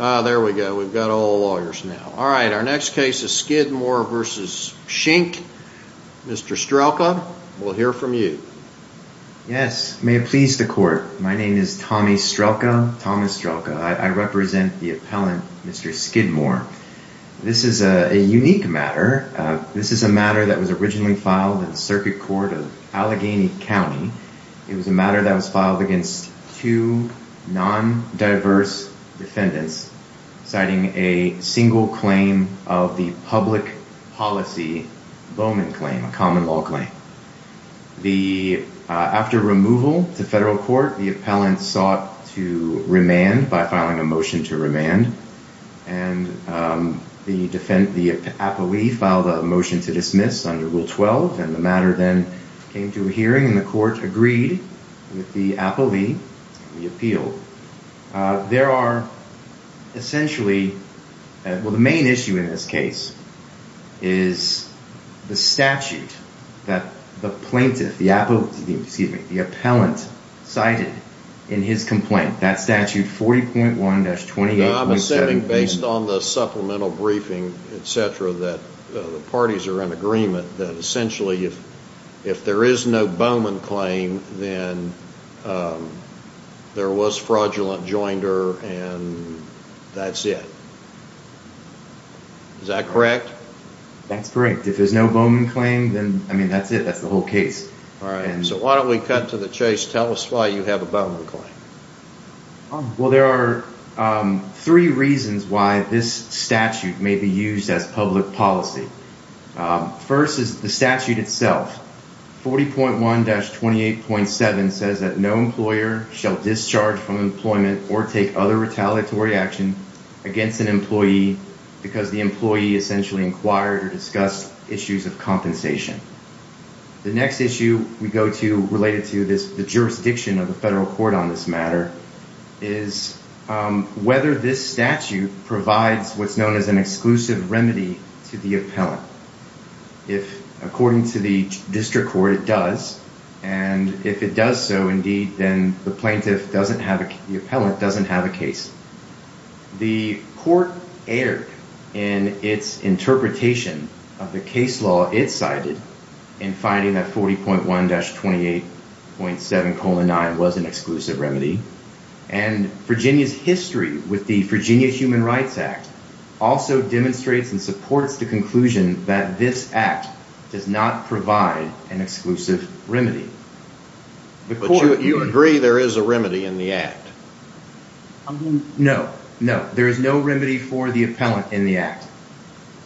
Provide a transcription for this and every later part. Ah, there we go, we've got all the lawyers now. Alright, our next case is Skidmore v. Schinke. Mr. Strelka, we'll hear from you. Yes, may it please the court. My name is Tommy Strelka, Thomas Strelka. I represent the appellant, Mr. Skidmore. This is a unique matter. This is a matter that was originally filed in the circuit court of Allegheny County. It was a matter that was filed against two non-diverse defendants, citing a single claim of the public policy Bowman claim, a common law claim. After removal to federal court, the appellant sought to remand by filing a motion to remand. The appellee filed a motion to dismiss under Rule 12. The matter then came to a hearing and the court agreed with the appellee and the appeal. The main issue in this case is the statute that the plaintiff, the appellant, cited in his complaint. That statute 40.1-28.7 Based on the supplemental briefing, etc., that the parties are in agreement that essentially if there is no Bowman claim, then there was fraudulent joinder and that's it. Is that correct? That's correct. If there's no Bowman claim, then, I mean, that's it. That's the whole case. So why don't we cut to the chase. Tell us why you have a Bowman claim. Well, there are three reasons why this statute may be used as public policy. First is the statute itself. 40.1-28.7 says that no employer shall discharge from employment or take other retaliatory action against an employee because the employee essentially inquired or discussed issues of compensation. The next issue we go to related to this, the jurisdiction of the federal court on this matter, is whether this statute provides what's known as an exclusive remedy to the appellant. If, according to the district court, it does, and if it does so, indeed, then the plaintiff doesn't have, the appellant doesn't have a case. The court erred in its interpretation of the case law it cited in finding that 40.1-28.7.9 was an exclusive remedy. And Virginia's history with the Virginia Human Rights Act also demonstrates and supports the conclusion that this act does not provide an exclusive remedy. But you agree there is a remedy in the act? No. No. There is no remedy for the appellant in the act.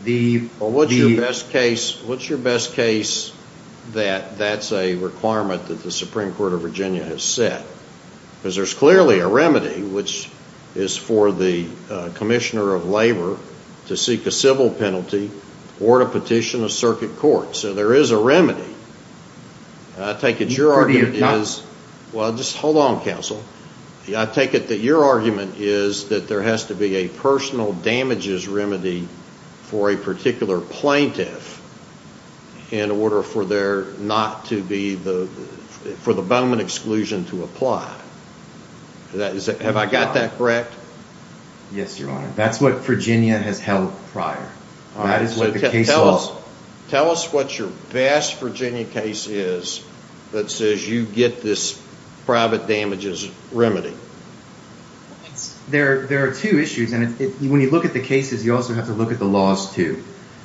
Well, what's your best case that that's a requirement that the Supreme Court of Virginia has set? Because there's clearly a remedy, which is for the commissioner of labor to seek a civil penalty or to petition a circuit court. So there is a remedy. I take it your argument is... Well, just hold on, counsel. I take it that your argument is that there has to be a personal damages remedy for a particular plaintiff in order for the abetment exclusion to apply. Have I got that correct? Yes, Your Honor. That's what Virginia has held prior. Tell us what your best Virginia case is that says you get this private damages remedy. There are two issues. And when you look at the cases, you also have to look at the laws, too.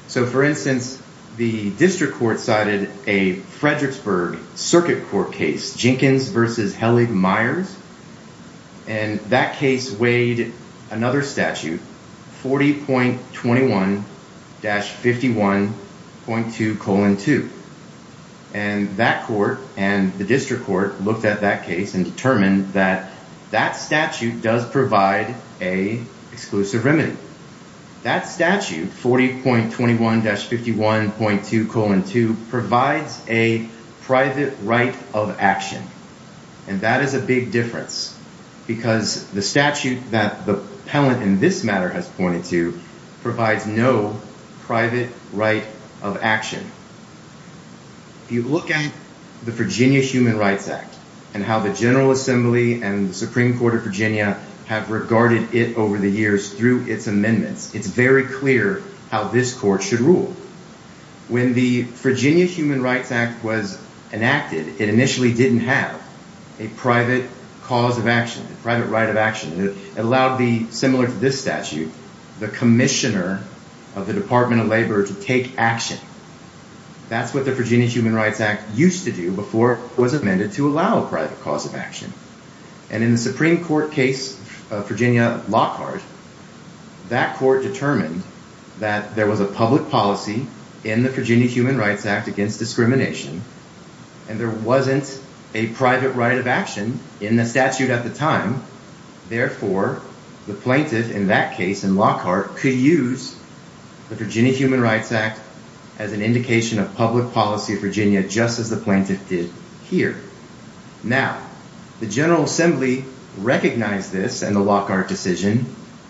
So, for instance, the district court cited a Fredericksburg circuit court case, Jenkins v. Hellig-Myers. And that case weighed another statute, 40.21-51.2 colon 2. And that court and the district court looked at that case and determined that that statute does provide a exclusive remedy. That statute, 40.21-51.2 colon 2, provides a private right of action. And that is a big difference because the statute that the appellant in this matter has pointed to provides no private right of action. If you look at the Virginia Human Rights Act and how the General Assembly and the Supreme Court of Virginia have regarded it over the years through its amendments, it's very clear how this court should rule. When the Virginia Human Rights Act was enacted, it initially didn't have a private cause of action, private right of action. It allowed the, similar to this statute, the commissioner of the Department of Labor to take action. That's what the Virginia Human Rights Act used to do before it was amended to allow a private cause of action. And in the Supreme Court case of Virginia Lockhart, that court determined that there was a public policy in the Virginia Human Rights Act against discrimination, and there wasn't a private right of action in the statute at the time. Therefore, the plaintiff in that case, in Lockhart, could use the Virginia Human Rights Act as an indication of public policy of Virginia, just as the plaintiff did here. Now, the General Assembly recognized this and the Lockhart decision,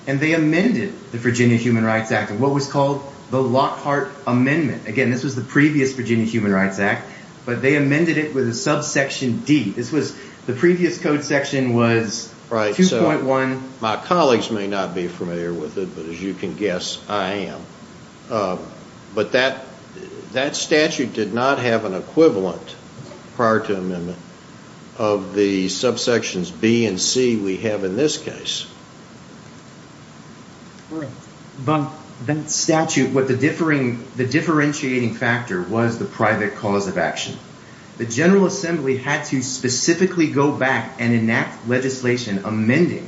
and they amended the Virginia Human Rights Act in what was called the Lockhart Amendment. Again, this was the previous Virginia Human Rights Act, but they amended it with a subsection D. This was the previous code section was 2.1. My colleagues may not be familiar with it, but as you can guess, I am. But that statute did not have an equivalent prior to amendment of the subsections B and C we have in this case. But the statute, what the differing, the differentiating factor was the private cause of action. The General Assembly had to specifically go back and enact legislation amending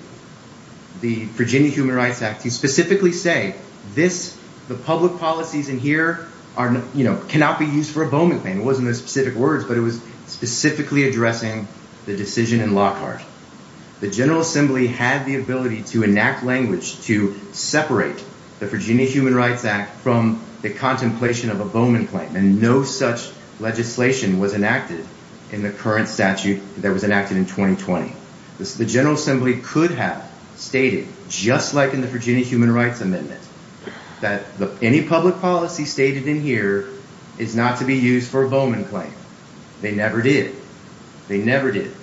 the Virginia Human Rights Act to specifically say this. The public policies in here are, you know, cannot be used for a Bowman claim. It wasn't a specific words, but it was specifically addressing the decision in Lockhart. The General Assembly had the ability to enact language to separate the Virginia Human Rights Act from the contemplation of a Bowman claim. And no such legislation was enacted in the current statute that was enacted in 2020. The General Assembly could have stated, just like in the Virginia Human Rights Amendment, that any public policy stated in here is not to be used for a Bowman claim. They never did. They never did.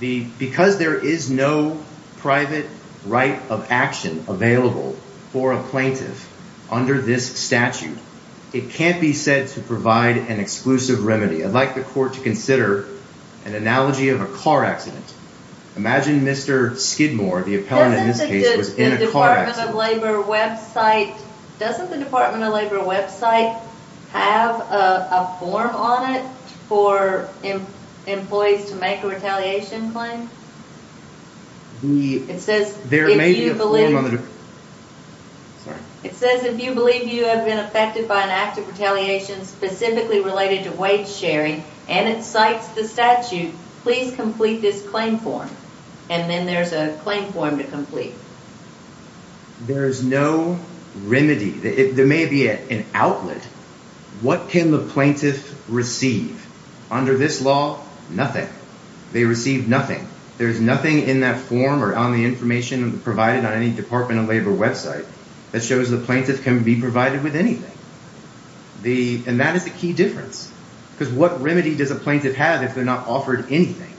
Because there is no private right of action available for a plaintiff under this statute, it can't be said to provide an exclusive remedy. I'd like the court to consider an analogy of a car accident. Imagine Mr. Skidmore, the appellant in this case, was in a car accident. Doesn't the Department of Labor website have a form on it for employees to make a retaliation claim? It says, if you believe you have been affected by an act of retaliation specifically related to wage sharing and it cites the statute, please complete this claim form. And then there's a claim form to complete. There is no remedy. There may be an outlet. What can the plaintiff receive? Under this law, nothing. They receive nothing. There's nothing in that form or on the information provided on any Department of Labor website that shows the plaintiff can be provided with anything. And that is the key difference. Because what remedy does a plaintiff have if they're not offered anything?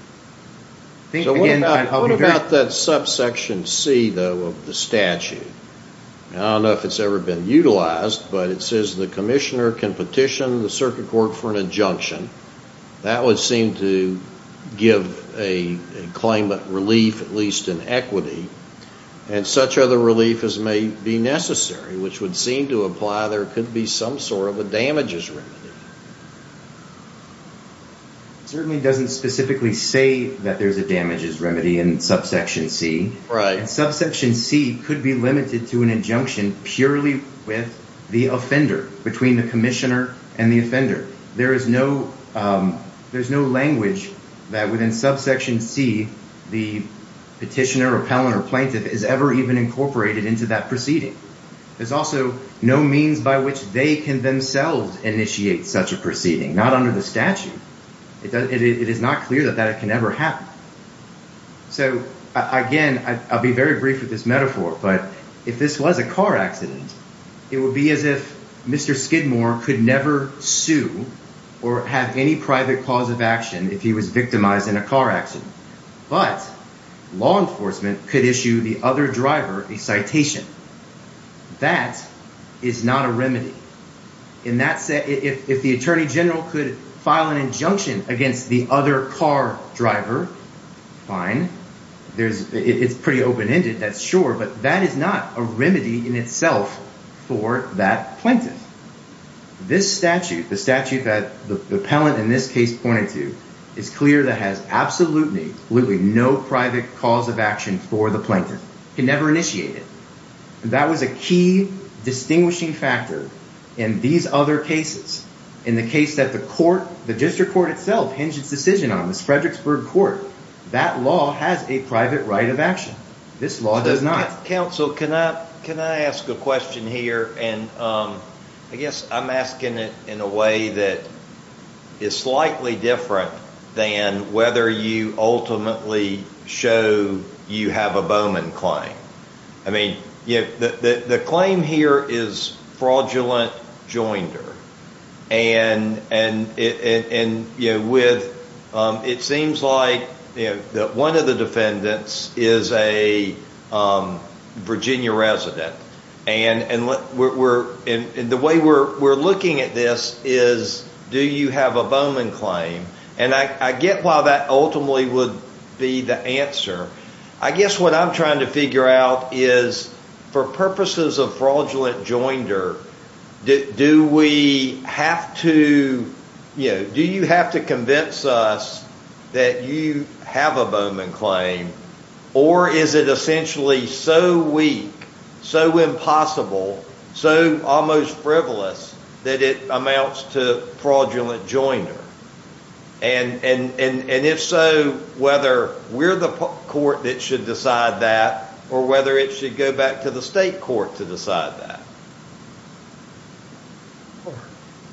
What about that subsection C of the statute? I don't know if it's ever been utilized, but it says the commissioner can petition the circuit court for an injunction. That would seem to give a claimant relief, at least in equity. And such other relief as may be necessary, which would seem to imply there could be some sort of a damages remedy. It certainly doesn't specifically say that there's a damages remedy in subsection C. And subsection C could be limited to an injunction purely with the offender, between the commissioner and the offender. There is no language that within subsection C the petitioner or appellant or plaintiff is ever even incorporated into that proceeding. There's also no means by which they can themselves initiate such a proceeding, not under the statute. It is not clear that that can ever happen. So, again, I'll be very brief with this metaphor, but if this was a car accident, it would be as if Mr. Skidmore could never sue or have any private cause of action if he was victimized in a car accident. But law enforcement could issue the other driver a citation. That is not a remedy. If the attorney general could file an injunction against the other car driver, fine. It's pretty open-ended, that's sure, but that is not a remedy in itself for that plaintiff. This statute, the statute that the appellant in this case pointed to, is clear that has absolutely no private cause of action for the plaintiff. He can never initiate it. That was a key distinguishing factor in these other cases. In the case that the court, the district court itself, hinged its decision on, the Fredericksburg court, that law has a private right of action. This law does not. Counsel, can I ask a question here? I guess I'm asking it in a way that is slightly different than whether you ultimately show you have a Bowman claim. The claim here is fraudulent joinder. It seems like one of the defendants is a Virginia resident. The way we're looking at this is, do you have a Bowman claim? I get why that ultimately would be the answer. I guess what I'm trying to figure out is, for purposes of fraudulent joinder, do you have to convince us that you have a Bowman claim? Or is it essentially so weak, so impossible, so almost frivolous that it amounts to fraudulent joinder? If so, whether we're the court that should decide that, or whether it should go back to the state court to decide that.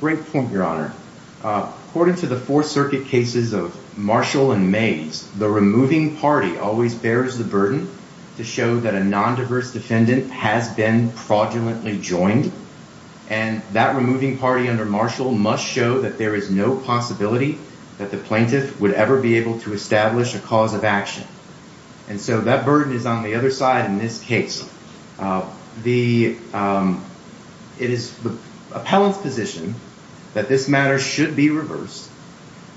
Great point, Your Honor. According to the Fourth Circuit cases of Marshall and Mays, the removing party always bears the burden to show that a non-diverse defendant has been fraudulently joined. And that removing party under Marshall must show that there is no possibility that the plaintiff would ever be able to establish a cause of action. And so that burden is on the other side in this case. It is the appellant's position that this matter should be reversed,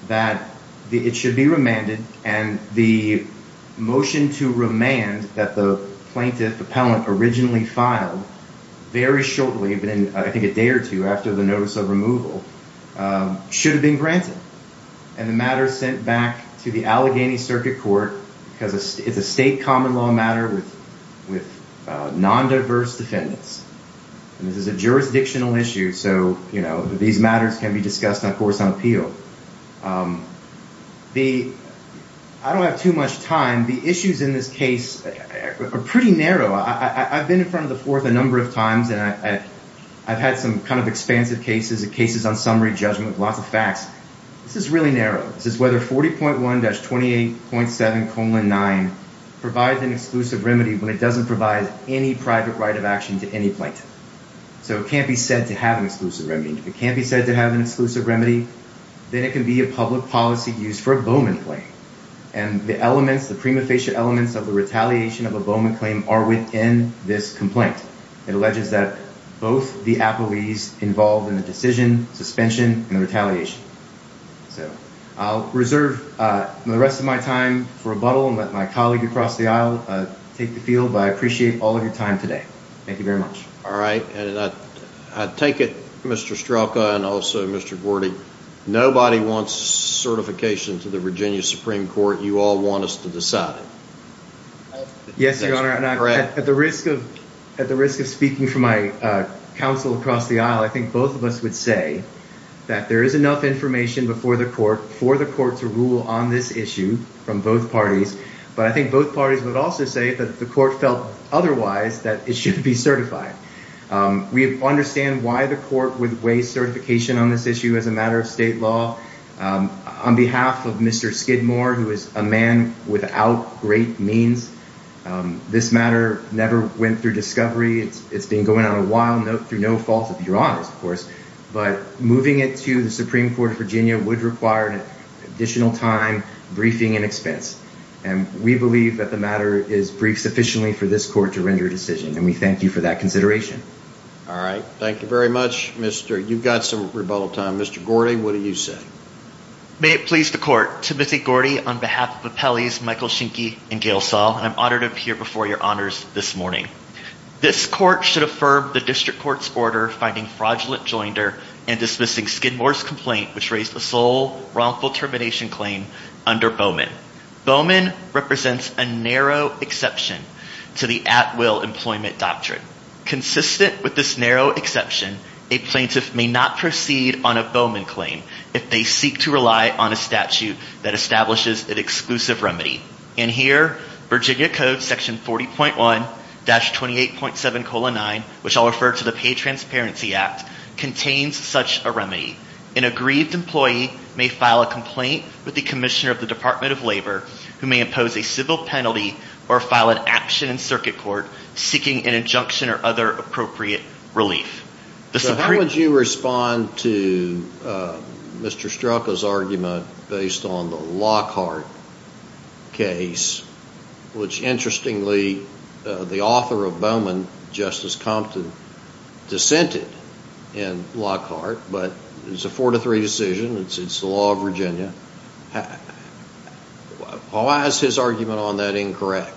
that it should be remanded. And the motion to remand that the plaintiff appellant originally filed very shortly, I think a day or two after the notice of removal, should have been granted. And the matter is sent back to the Allegheny Circuit Court because it's a state common law matter with non-diverse defendants. And this is a jurisdictional issue, so these matters can be discussed on course on appeal. I don't have too much time. The issues in this case are pretty narrow. I've been in front of the Fourth a number of times, and I've had some kind of expansive cases, cases on summary judgment, lots of facts. This is really narrow. This is whether 40.1-28.7-9 provides an exclusive remedy when it doesn't provide any private right of action to any plaintiff. So it can't be said to have an exclusive remedy. And if it can't be said to have an exclusive remedy, then it can be a public policy used for a Bowman claim. And the elements, the prima facie elements of the retaliation of a Bowman claim are within this complaint. It alleges that both the appellees involved in the decision, suspension, and the retaliation. So I'll reserve the rest of my time for rebuttal and let my colleague across the aisle take the field, but I appreciate all of your time today. Thank you very much. All right. And I take it, Mr. Strelka and also Mr. Gordy, nobody wants certification to the Virginia Supreme Court. You all want us to decide it. Yes, Your Honor. At the risk of speaking for my counsel across the aisle, I think both of us would say that there is enough information before the court for the court to rule on this issue from both parties. But I think both parties would also say that the court felt otherwise that it should be certified. We understand why the court would weigh certification on this issue as a matter of state law. On behalf of Mr. Skidmore, who is a man without great means, this matter never went through discovery. It's been going on a while through no fault of Your Honor's, of course. But moving it to the Supreme Court of Virginia would require an additional time, briefing and expense. And we believe that the matter is briefed sufficiently for this court to render a decision. And we thank you for that consideration. All right. Thank you very much, Mr. You've got some rebuttal time. Mr. Gordy, what do you say? May it please the court. Timothy Gordy on behalf of Appellees Michael Schinke and Gail Saul. I'm honored to appear before Your Honors this morning. This court should affirm the district court's order finding fraudulent joinder and dismissing Skidmore's complaint, which raised the sole wrongful termination claim under Bowman. Bowman represents a narrow exception to the at will employment doctrine. Consistent with this narrow exception, a plaintiff may not proceed on a Bowman claim if they seek to rely on a statute that establishes an exclusive remedy. And here, Virginia Code Section 40.1-28.7-9, which I'll refer to the Pay Transparency Act, contains such a remedy. An aggrieved employee may file a complaint with the commissioner of the Department of Labor who may impose a civil penalty or file an action in circuit court seeking an injunction or other appropriate relief. So how would you respond to Mr. Strelka's argument based on the Lockhart case, which interestingly the author of Bowman, Justice Compton, dissented in Lockhart. But it's a four to three decision. It's the law of Virginia. Why is his argument on that incorrect?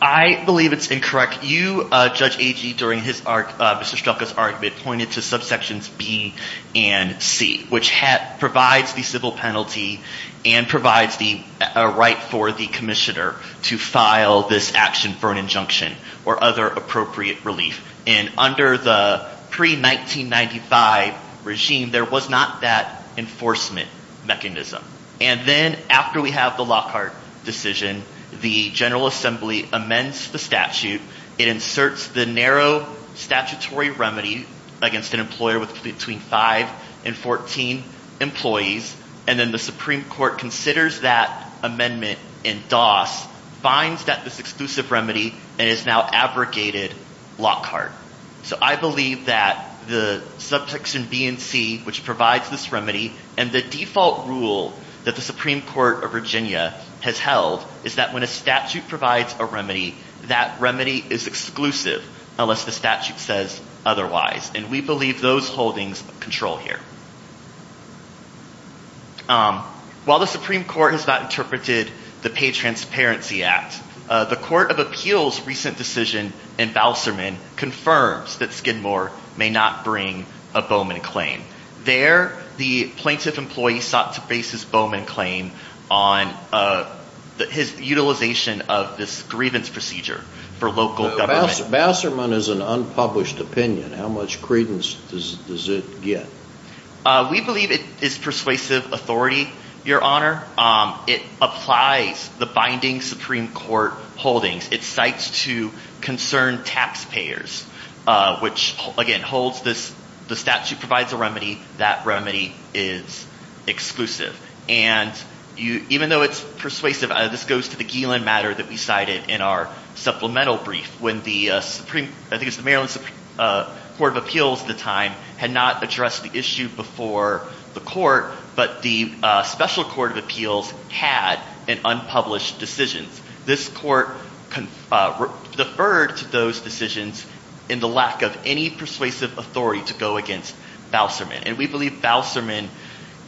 I believe it's incorrect. You, Judge Agee, during Mr. Strelka's argument pointed to subsections B and C, which provides the civil penalty and provides the right for the commissioner to file this action for an injunction or other appropriate relief. And under the pre-1995 regime, there was not that enforcement mechanism. And then after we have the Lockhart decision, the General Assembly amends the statute. It inserts the narrow statutory remedy against an employer with between five and 14 employees. And then the Supreme Court considers that amendment in DOS, finds that this exclusive remedy, and has now abrogated Lockhart. So I believe that the subsection B and C, which provides this remedy, and the default rule that the Supreme Court of Virginia has held, is that when a statute provides a remedy, that remedy is exclusive unless the statute says otherwise. And we believe those holdings control here. While the Supreme Court has not interpreted the Pay Transparency Act, the Court of Appeals' recent decision in Bouserman confirms that Skidmore may not bring a Bowman claim. There the plaintiff employee sought to base his Bowman claim on his utilization of this grievance procedure for local government. Bouserman is an unpublished opinion. How much credence does it get? We believe it is persuasive authority, Your Honor. It applies the binding Supreme Court holdings. It cites to concerned taxpayers, which, again, holds this – the statute provides a remedy. That remedy is exclusive. And even though it's persuasive, this goes to the Gielin matter that we cited in our supplemental brief when the – I think it was the Maryland Supreme Court of Appeals at the time had not addressed the issue before the court, but the special court of appeals had an unpublished decision. This court deferred to those decisions in the lack of any persuasive authority to go against Bouserman. And we believe Bouserman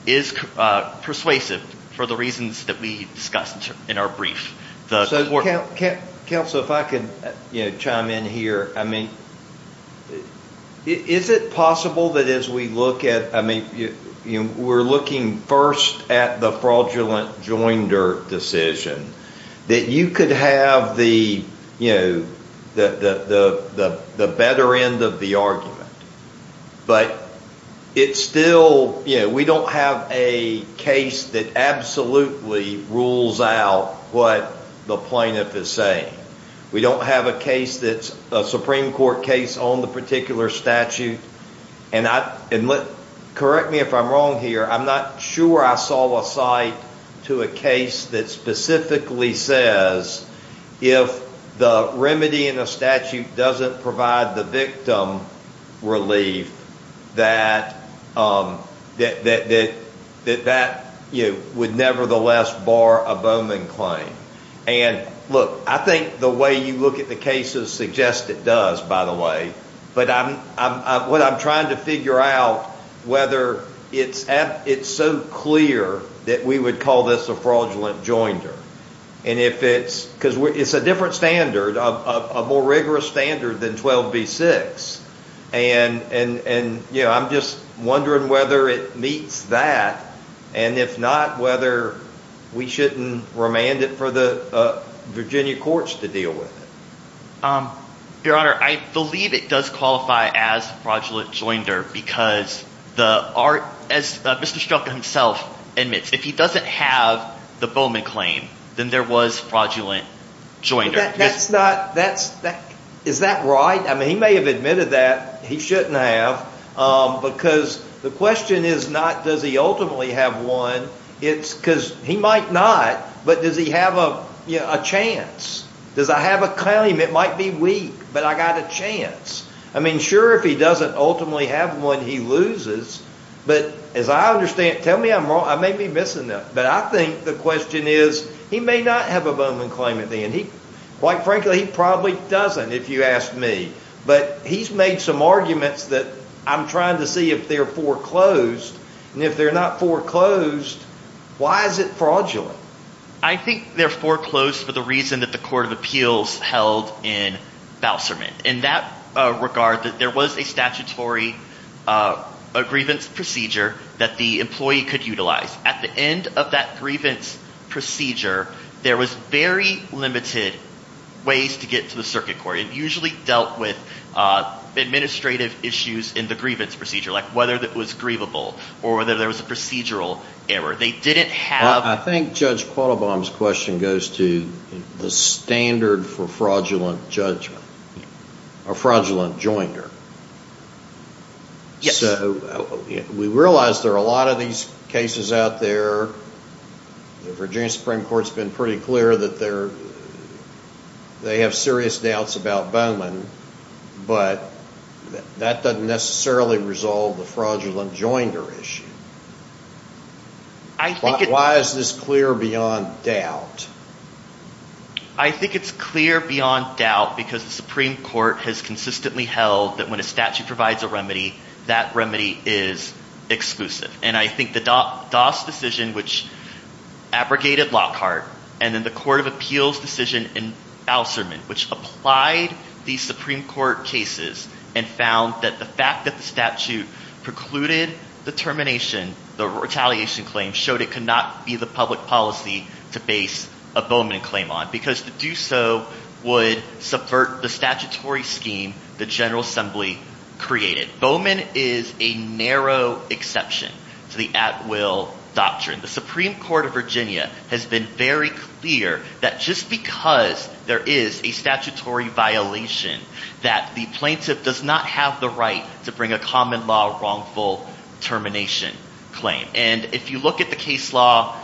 is persuasive for the reasons that we discussed in our brief. Counsel, if I could chime in here. I mean, is it possible that as we look at – I mean, we're looking first at the fraudulent Joindert decision, that you could have the better end of the argument. But it's still – we don't have a case that absolutely rules out what the plaintiff is saying. We don't have a case that's – a Supreme Court case on the particular statute. And correct me if I'm wrong here. I'm not sure I saw a cite to a case that specifically says if the remedy in a statute doesn't provide the victim relief, that that would nevertheless bar a Bowman claim. And look, I think the way you look at the cases suggests it does, by the way. But what I'm trying to figure out, whether it's so clear that we would call this a fraudulent Joindert. And if it's – because it's a different standard, a more rigorous standard than 12b-6. And I'm just wondering whether it meets that, and if not, whether we shouldn't remand it for the Virginia courts to deal with it. Your Honor, I believe it does qualify as fraudulent Joindert because the – as Mr. Strzok himself admits, if he doesn't have the Bowman claim, then there was fraudulent Joindert. That's not – is that right? I mean, he may have admitted that. He shouldn't have because the question is not does he ultimately have one. It's because he might not, but does he have a chance? Does I have a claim? It might be weak, but I got a chance. I mean, sure, if he doesn't ultimately have one, he loses. But as I understand – tell me I'm wrong. I may be missing them. But I think the question is he may not have a Bowman claim at the end. And he – quite frankly, he probably doesn't if you ask me. But he's made some arguments that I'm trying to see if they're foreclosed. And if they're not foreclosed, why is it fraudulent? I think they're foreclosed for the reason that the court of appeals held in Bouserman. In that regard, there was a statutory grievance procedure that the employee could utilize. At the end of that grievance procedure, there was very limited ways to get to the circuit court. It usually dealt with administrative issues in the grievance procedure, like whether it was grievable or whether there was a procedural error. They didn't have – I think Judge Quattlebaum's question goes to the standard for fraudulent judgment or fraudulent joinder. Yes. So we realize there are a lot of these cases out there. The Virginia Supreme Court's been pretty clear that they have serious doubts about Bowman. But that doesn't necessarily resolve the fraudulent joinder issue. Why is this clear beyond doubt? I think it's clear beyond doubt because the Supreme Court has consistently held that when a statute provides a remedy, that remedy is exclusive. And I think the Doss decision, which abrogated Lockhart, and then the court of appeals decision in Bouserman, which applied these Supreme Court cases and found that the fact that the statute precluded the termination, the retaliation claim, showed it could not be the public policy to base a Bowman claim on because to do so would subvert the statutory scheme the General Assembly created. Bowman is a narrow exception to the at-will doctrine. The Supreme Court of Virginia has been very clear that just because there is a statutory violation, that the plaintiff does not have the right to bring a common law wrongful termination claim. And if you look at the case law,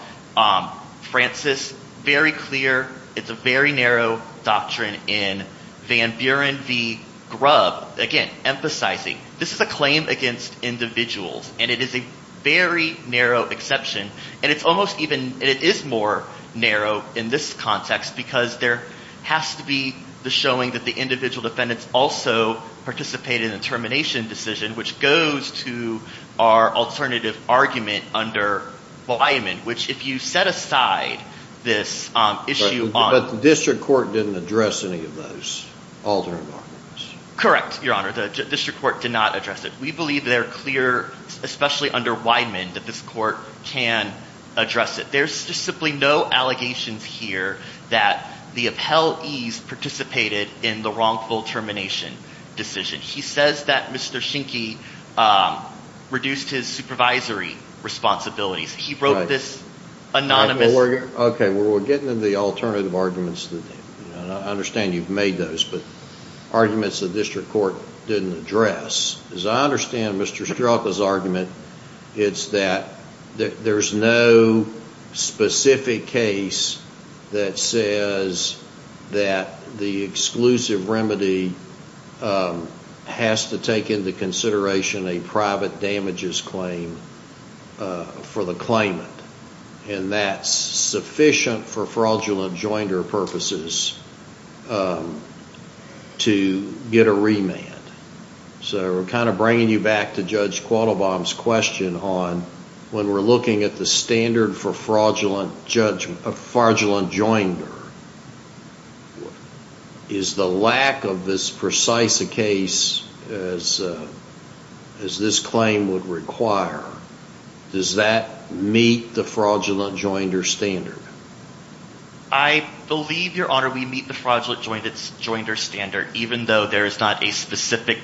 Francis, very clear, it's a very narrow doctrine. And in Van Buren v. Grubb, again, emphasizing this is a claim against individuals, and it is a very narrow exception, and it's almost even, and it is more narrow in this context because there has to be the showing that the individual defendants also participated in the termination decision, which goes to our alternative argument under Blyman, which if you set aside this issue on. But the district court didn't address any of those alternative arguments. Correct, Your Honor. The district court did not address it. We believe they're clear, especially under Wideman, that this court can address it. There's just simply no allegations here that the appellees participated in the wrongful termination decision. He says that Mr. Schinke reduced his supervisory responsibilities. He wrote this anonymous. Okay, well, we're getting into the alternative arguments. I understand you've made those, but arguments the district court didn't address. As I understand Mr. Strzoka's argument, it's that there's no specific case that says that the exclusive remedy has to take into consideration a private damages claim for the claimant, and that's sufficient for fraudulent joinder purposes to get a remand. So we're kind of bringing you back to Judge Quattlebaum's question on, when we're looking at the standard for fraudulent joinder, is the lack of this precise a case as this claim would require? Does that meet the fraudulent joinder standard? I believe, Your Honor, we meet the fraudulent joinder standard, even though there is not a specific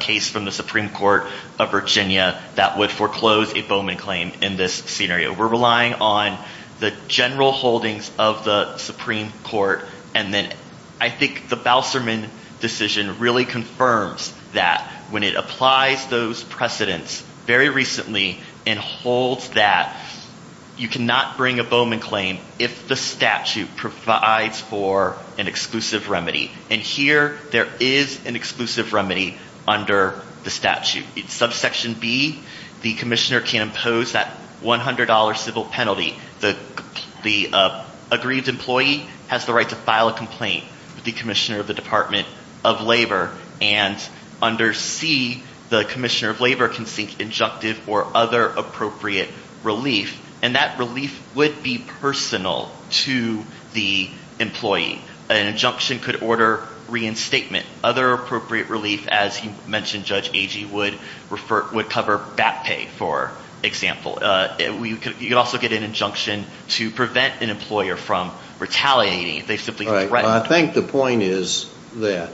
case from the Supreme Court of Virginia that would foreclose a Bowman claim in this scenario. We're relying on the general holdings of the Supreme Court, and then I think the Bouserman decision really confirms that. When it applies those precedents very recently and holds that you cannot bring a Bowman claim if the statute provides for an exclusive remedy. And here there is an exclusive remedy under the statute. It's subsection B. The commissioner can impose that $100 civil penalty. The aggrieved employee has the right to file a complaint with the commissioner of the Department of Labor and under C, the commissioner of Labor can seek injunctive or other appropriate relief, and that relief would be personal to the employee. An injunction could order reinstatement. Other appropriate relief, as you mentioned, Judge Agee, would cover BAT pay, for example. You could also get an injunction to prevent an employer from retaliating. I think the point is that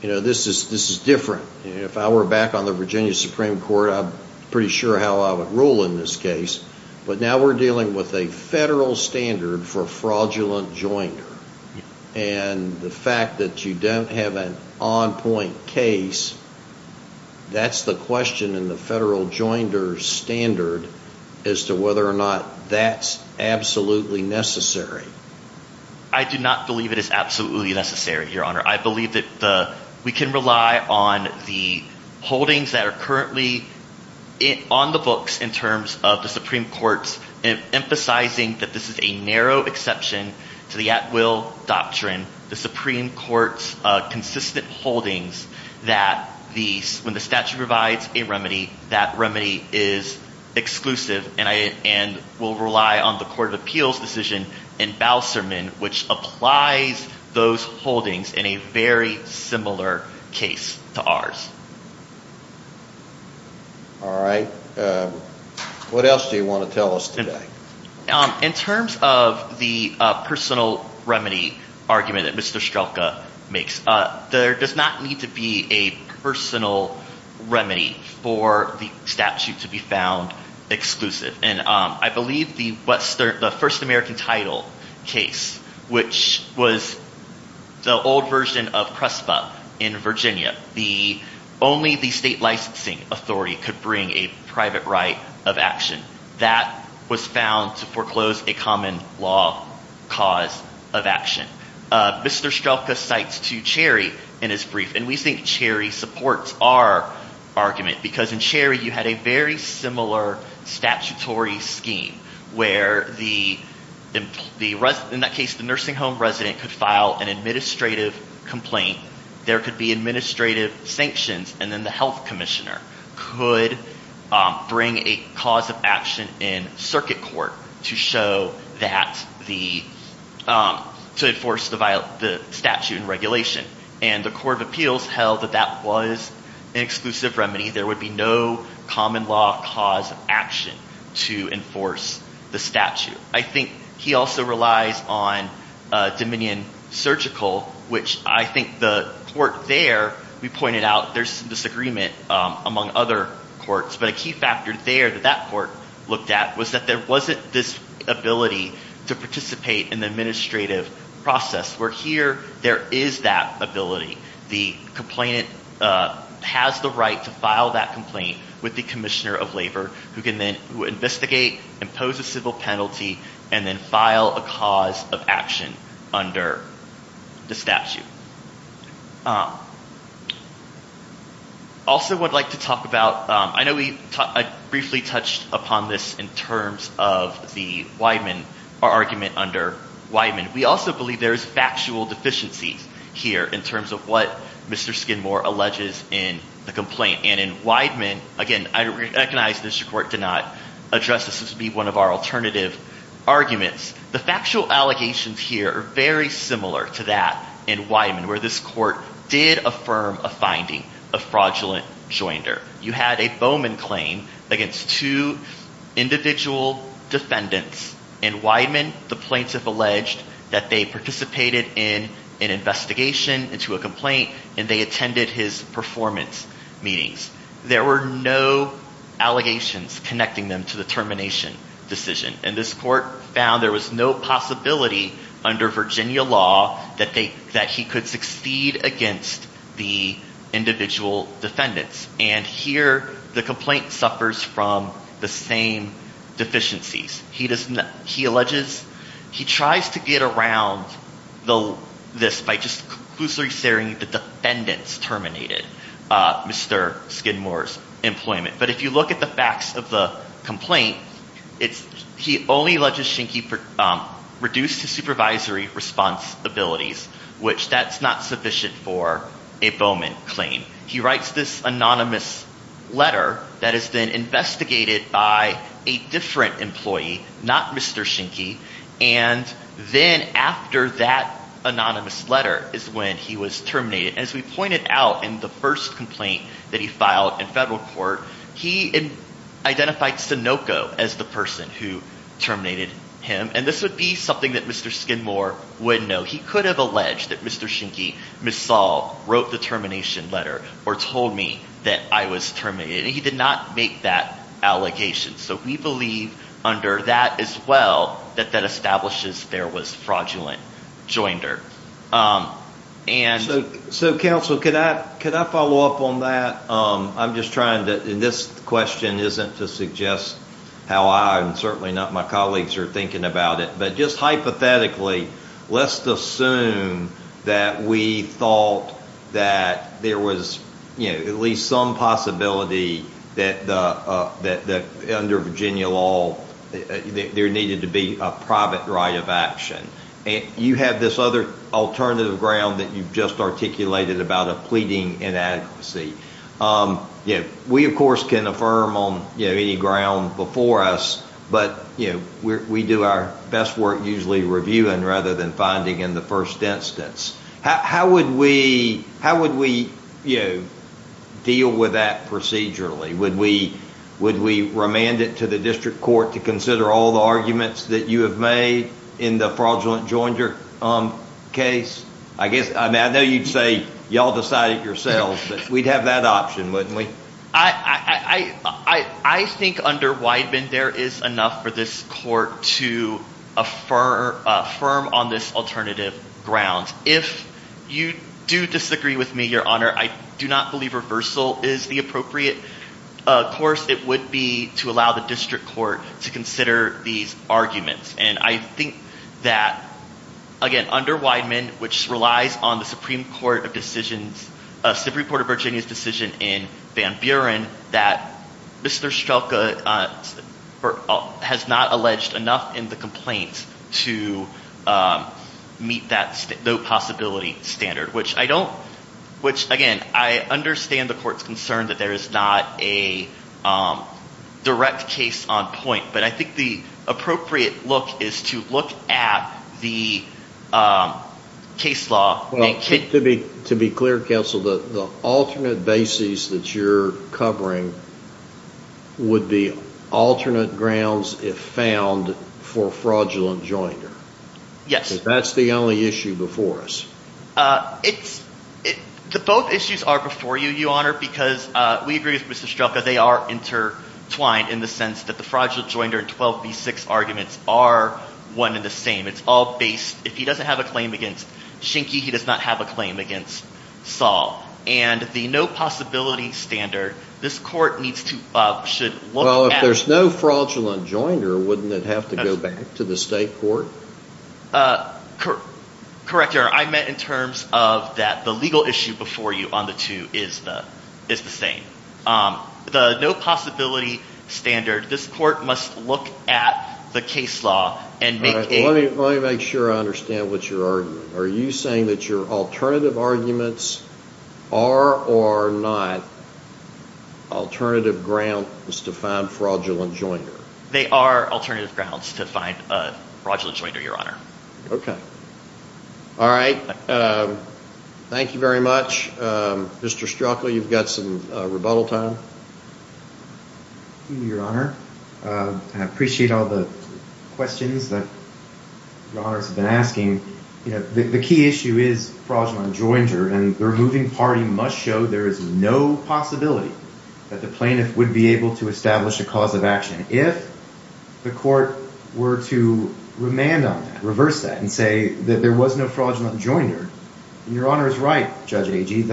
this is different. If I were back on the Virginia Supreme Court, I'm pretty sure how I would rule in this case. But now we're dealing with a federal standard for fraudulent joinder. And the fact that you don't have an on-point case, that's the question in the federal joinder standard as to whether or not that's absolutely necessary. I do not believe it is absolutely necessary, Your Honor. I believe that we can rely on the holdings that are currently on the books in terms of the Supreme Court's emphasizing that this is a narrow exception to the at-will doctrine, the Supreme Court's consistent holdings that when the statute provides a remedy, that remedy is exclusive and will rely on the Court of Appeals' decision in Bouserman, which applies those holdings in a very similar case to ours. All right. What else do you want to tell us today? In terms of the personal remedy argument that Mr. Strelka makes, there does not need to be a personal remedy for the statute to be found exclusive. And I believe the first American title case, which was the old version of CRESPA in Virginia, only the state licensing authority could bring a private right of action. That was found to foreclose a common law cause of action. Mr. Strelka cites to Cherry in his brief, and we think Cherry supports our argument, because in Cherry you had a very similar statutory scheme, where in that case the nursing home resident could file an administrative complaint, there could be administrative sanctions, and then the health commissioner could bring a cause of action in circuit court to show that the, to enforce the statute and regulation. And the Court of Appeals held that that was an exclusive remedy. There would be no common law cause of action to enforce the statute. I think he also relies on Dominion Surgical, which I think the court there, we pointed out there's some disagreement among other courts, but a key factor there that that court looked at was that there wasn't this ability to participate in the administrative process, where here there is that ability. The complainant has the right to file that complaint with the commissioner of labor, who can then investigate, impose a civil penalty, and then file a cause of action under the statute. Also I'd like to talk about, I know we briefly touched upon this in terms of the Weidman, our argument under Weidman. We also believe there's factual deficiencies here, in terms of what Mr. Skidmore alleges in the complaint. And in Weidman, again, I recognize the district court did not address this as being one of our alternative arguments. The factual allegations here are very similar to that in Weidman, where this court did affirm a finding of fraudulent joinder. You had a Bowman claim against two individual defendants. In Weidman, the plaintiff alleged that they participated in an investigation into a complaint and they attended his performance meetings. There were no allegations connecting them to the termination decision. And this court found there was no possibility under Virginia law that he could succeed against the individual defendants. And here the complaint suffers from the same deficiencies. He alleges he tries to get around this by just conclusively saying the defendants terminated Mr. Skidmore's employment. But if you look at the facts of the complaint, he only alleges Schenke reduced his supervisory responsibilities, which that's not sufficient for a Bowman claim. He writes this anonymous letter that is then investigated by a different employee, not Mr. Schenke. And then after that anonymous letter is when he was terminated. As we pointed out in the first complaint that he filed in federal court, he identified Sinoco as the person who terminated him. And this would be something that Mr. Skidmore would know. He could have alleged that Mr. Schenke, Ms. Saul, wrote the termination letter or told me that I was terminated. He did not make that allegation. So we believe under that as well that that establishes there was fraudulent joinder. So, counsel, could I follow up on that? I'm just trying to, and this question isn't to suggest how I and certainly not my colleagues are thinking about it, but just hypothetically let's assume that we thought that there was at least some possibility that under Virginia law there needed to be a private right of action. You have this other alternative ground that you've just articulated about a pleading inadequacy. We, of course, can affirm on any ground before us, but we do our best work usually reviewing rather than finding in the first instance. How would we deal with that procedurally? Would we remand it to the district court to consider all the arguments that you have made in the fraudulent joinder case? I know you'd say, y'all decide it yourselves, but we'd have that option, wouldn't we? I think under Weidman there is enough for this court to affirm on this alternative ground. If you do disagree with me, Your Honor, I do not believe reversal is the appropriate course. It would be to allow the district court to consider these arguments. And I think that, again, under Weidman, which relies on the Supreme Court of Virginia's decision in Van Buren, that Mr. Strelka has not alleged enough in the complaint to meet that no possibility standard, which, again, I understand the court's concern that there is not a direct case on point, but I think the appropriate look is to look at the case law. To be clear, counsel, the alternate bases that you're covering would be alternate grounds if found for fraudulent joinder. Yes. That's the only issue before us. Both issues are before you, Your Honor, because we agree with Mr. Strelka. They are intertwined in the sense that the fraudulent joinder and 12b-6 arguments are one and the same. It's all based – if he doesn't have a claim against Schenke, he does not have a claim against Saul. And the no possibility standard, this court needs to – should look at it. Well, if there's no fraudulent joinder, wouldn't it have to go back to the state court? Correct, Your Honor. I meant in terms of that the legal issue before you on the two is the same. The no possibility standard, this court must look at the case law and make a – Let me make sure I understand what you're arguing. Are you saying that your alternative arguments are or are not alternative grounds to find fraudulent joinder? They are alternative grounds to find fraudulent joinder, Your Honor. Okay. All right. Thank you very much. Mr. Strelka, you've got some rebuttal time. Your Honor, I appreciate all the questions that Your Honors have been asking. The key issue is fraudulent joinder, and the removing party must show there is no possibility that the plaintiff would be able to establish a cause of action. If the court were to remand on that, reverse that, and say that there was no fraudulent joinder, and Your Honor is right, Judge Agee,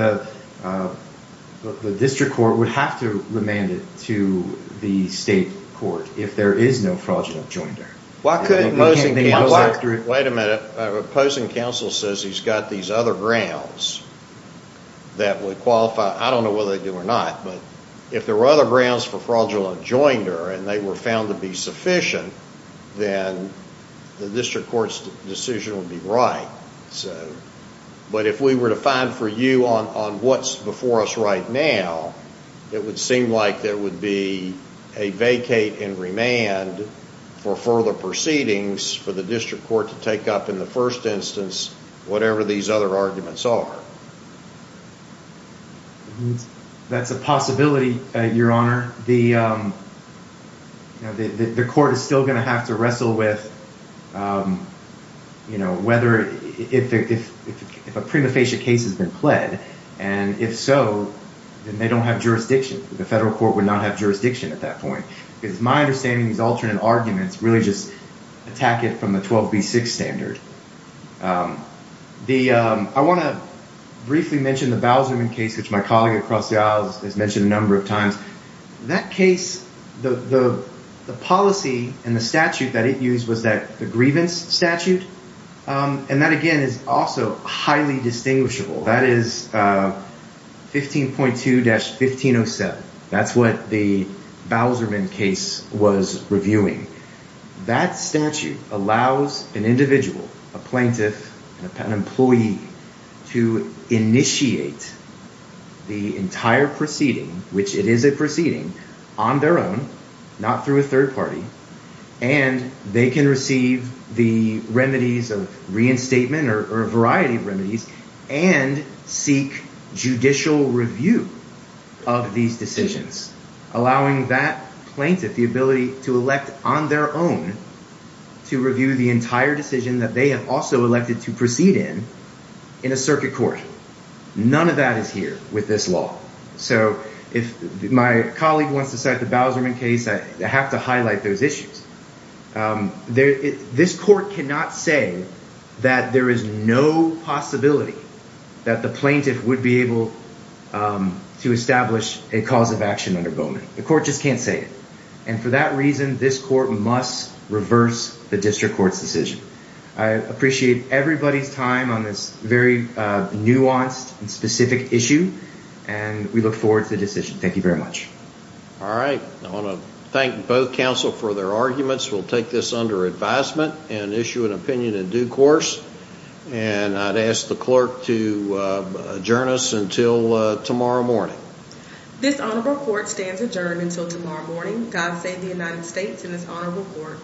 the district court would have to remand it to the state court if there is no fraudulent joinder. Why couldn't opposing counsel – Wait a minute. Opposing counsel says he's got these other grounds that would qualify – I don't know whether they do or not, but if there were other grounds for fraudulent joinder and they were found to be sufficient, then the district court's decision would be right. But if we were to find for you on what's before us right now, it would seem like there would be a vacate and remand for further proceedings for the district court to take up in the first instance whatever these other arguments are. That's a possibility, Your Honor. The court is still going to have to wrestle with whether – if a prima facie case has been pled, and if so, then they don't have jurisdiction. The federal court would not have jurisdiction at that point. It's my understanding these alternate arguments really just attack it from the 12B6 standard. I want to briefly mention the Bowserman case, which my colleague across the aisle has mentioned a number of times. That case, the policy and the statute that it used was the grievance statute, and that, again, is also highly distinguishable. That is 15.2-1507. That's what the Bowserman case was reviewing. That statute allows an individual, a plaintiff, an employee to initiate the entire proceeding, which it is a proceeding, on their own, not through a third party, and they can receive the remedies of reinstatement or a variety of remedies and seek judicial review of these decisions, allowing that plaintiff the ability to elect on their own to review the entire decision that they have also elected to proceed in in a circuit court. None of that is here with this law. So if my colleague wants to cite the Bowserman case, I have to highlight those issues. This court cannot say that there is no possibility that the plaintiff would be able to establish a cause of action under Bowman. The court just can't say it, and for that reason, this court must reverse the district court's decision. I appreciate everybody's time on this very nuanced and specific issue, and we look forward to the decision. Thank you very much. All right. I want to thank both counsel for their arguments. We'll take this under advisement and issue an opinion in due course, and I'd ask the clerk to adjourn us until tomorrow morning. This honorable court stands adjourned until tomorrow morning. God save the United States and this honorable court.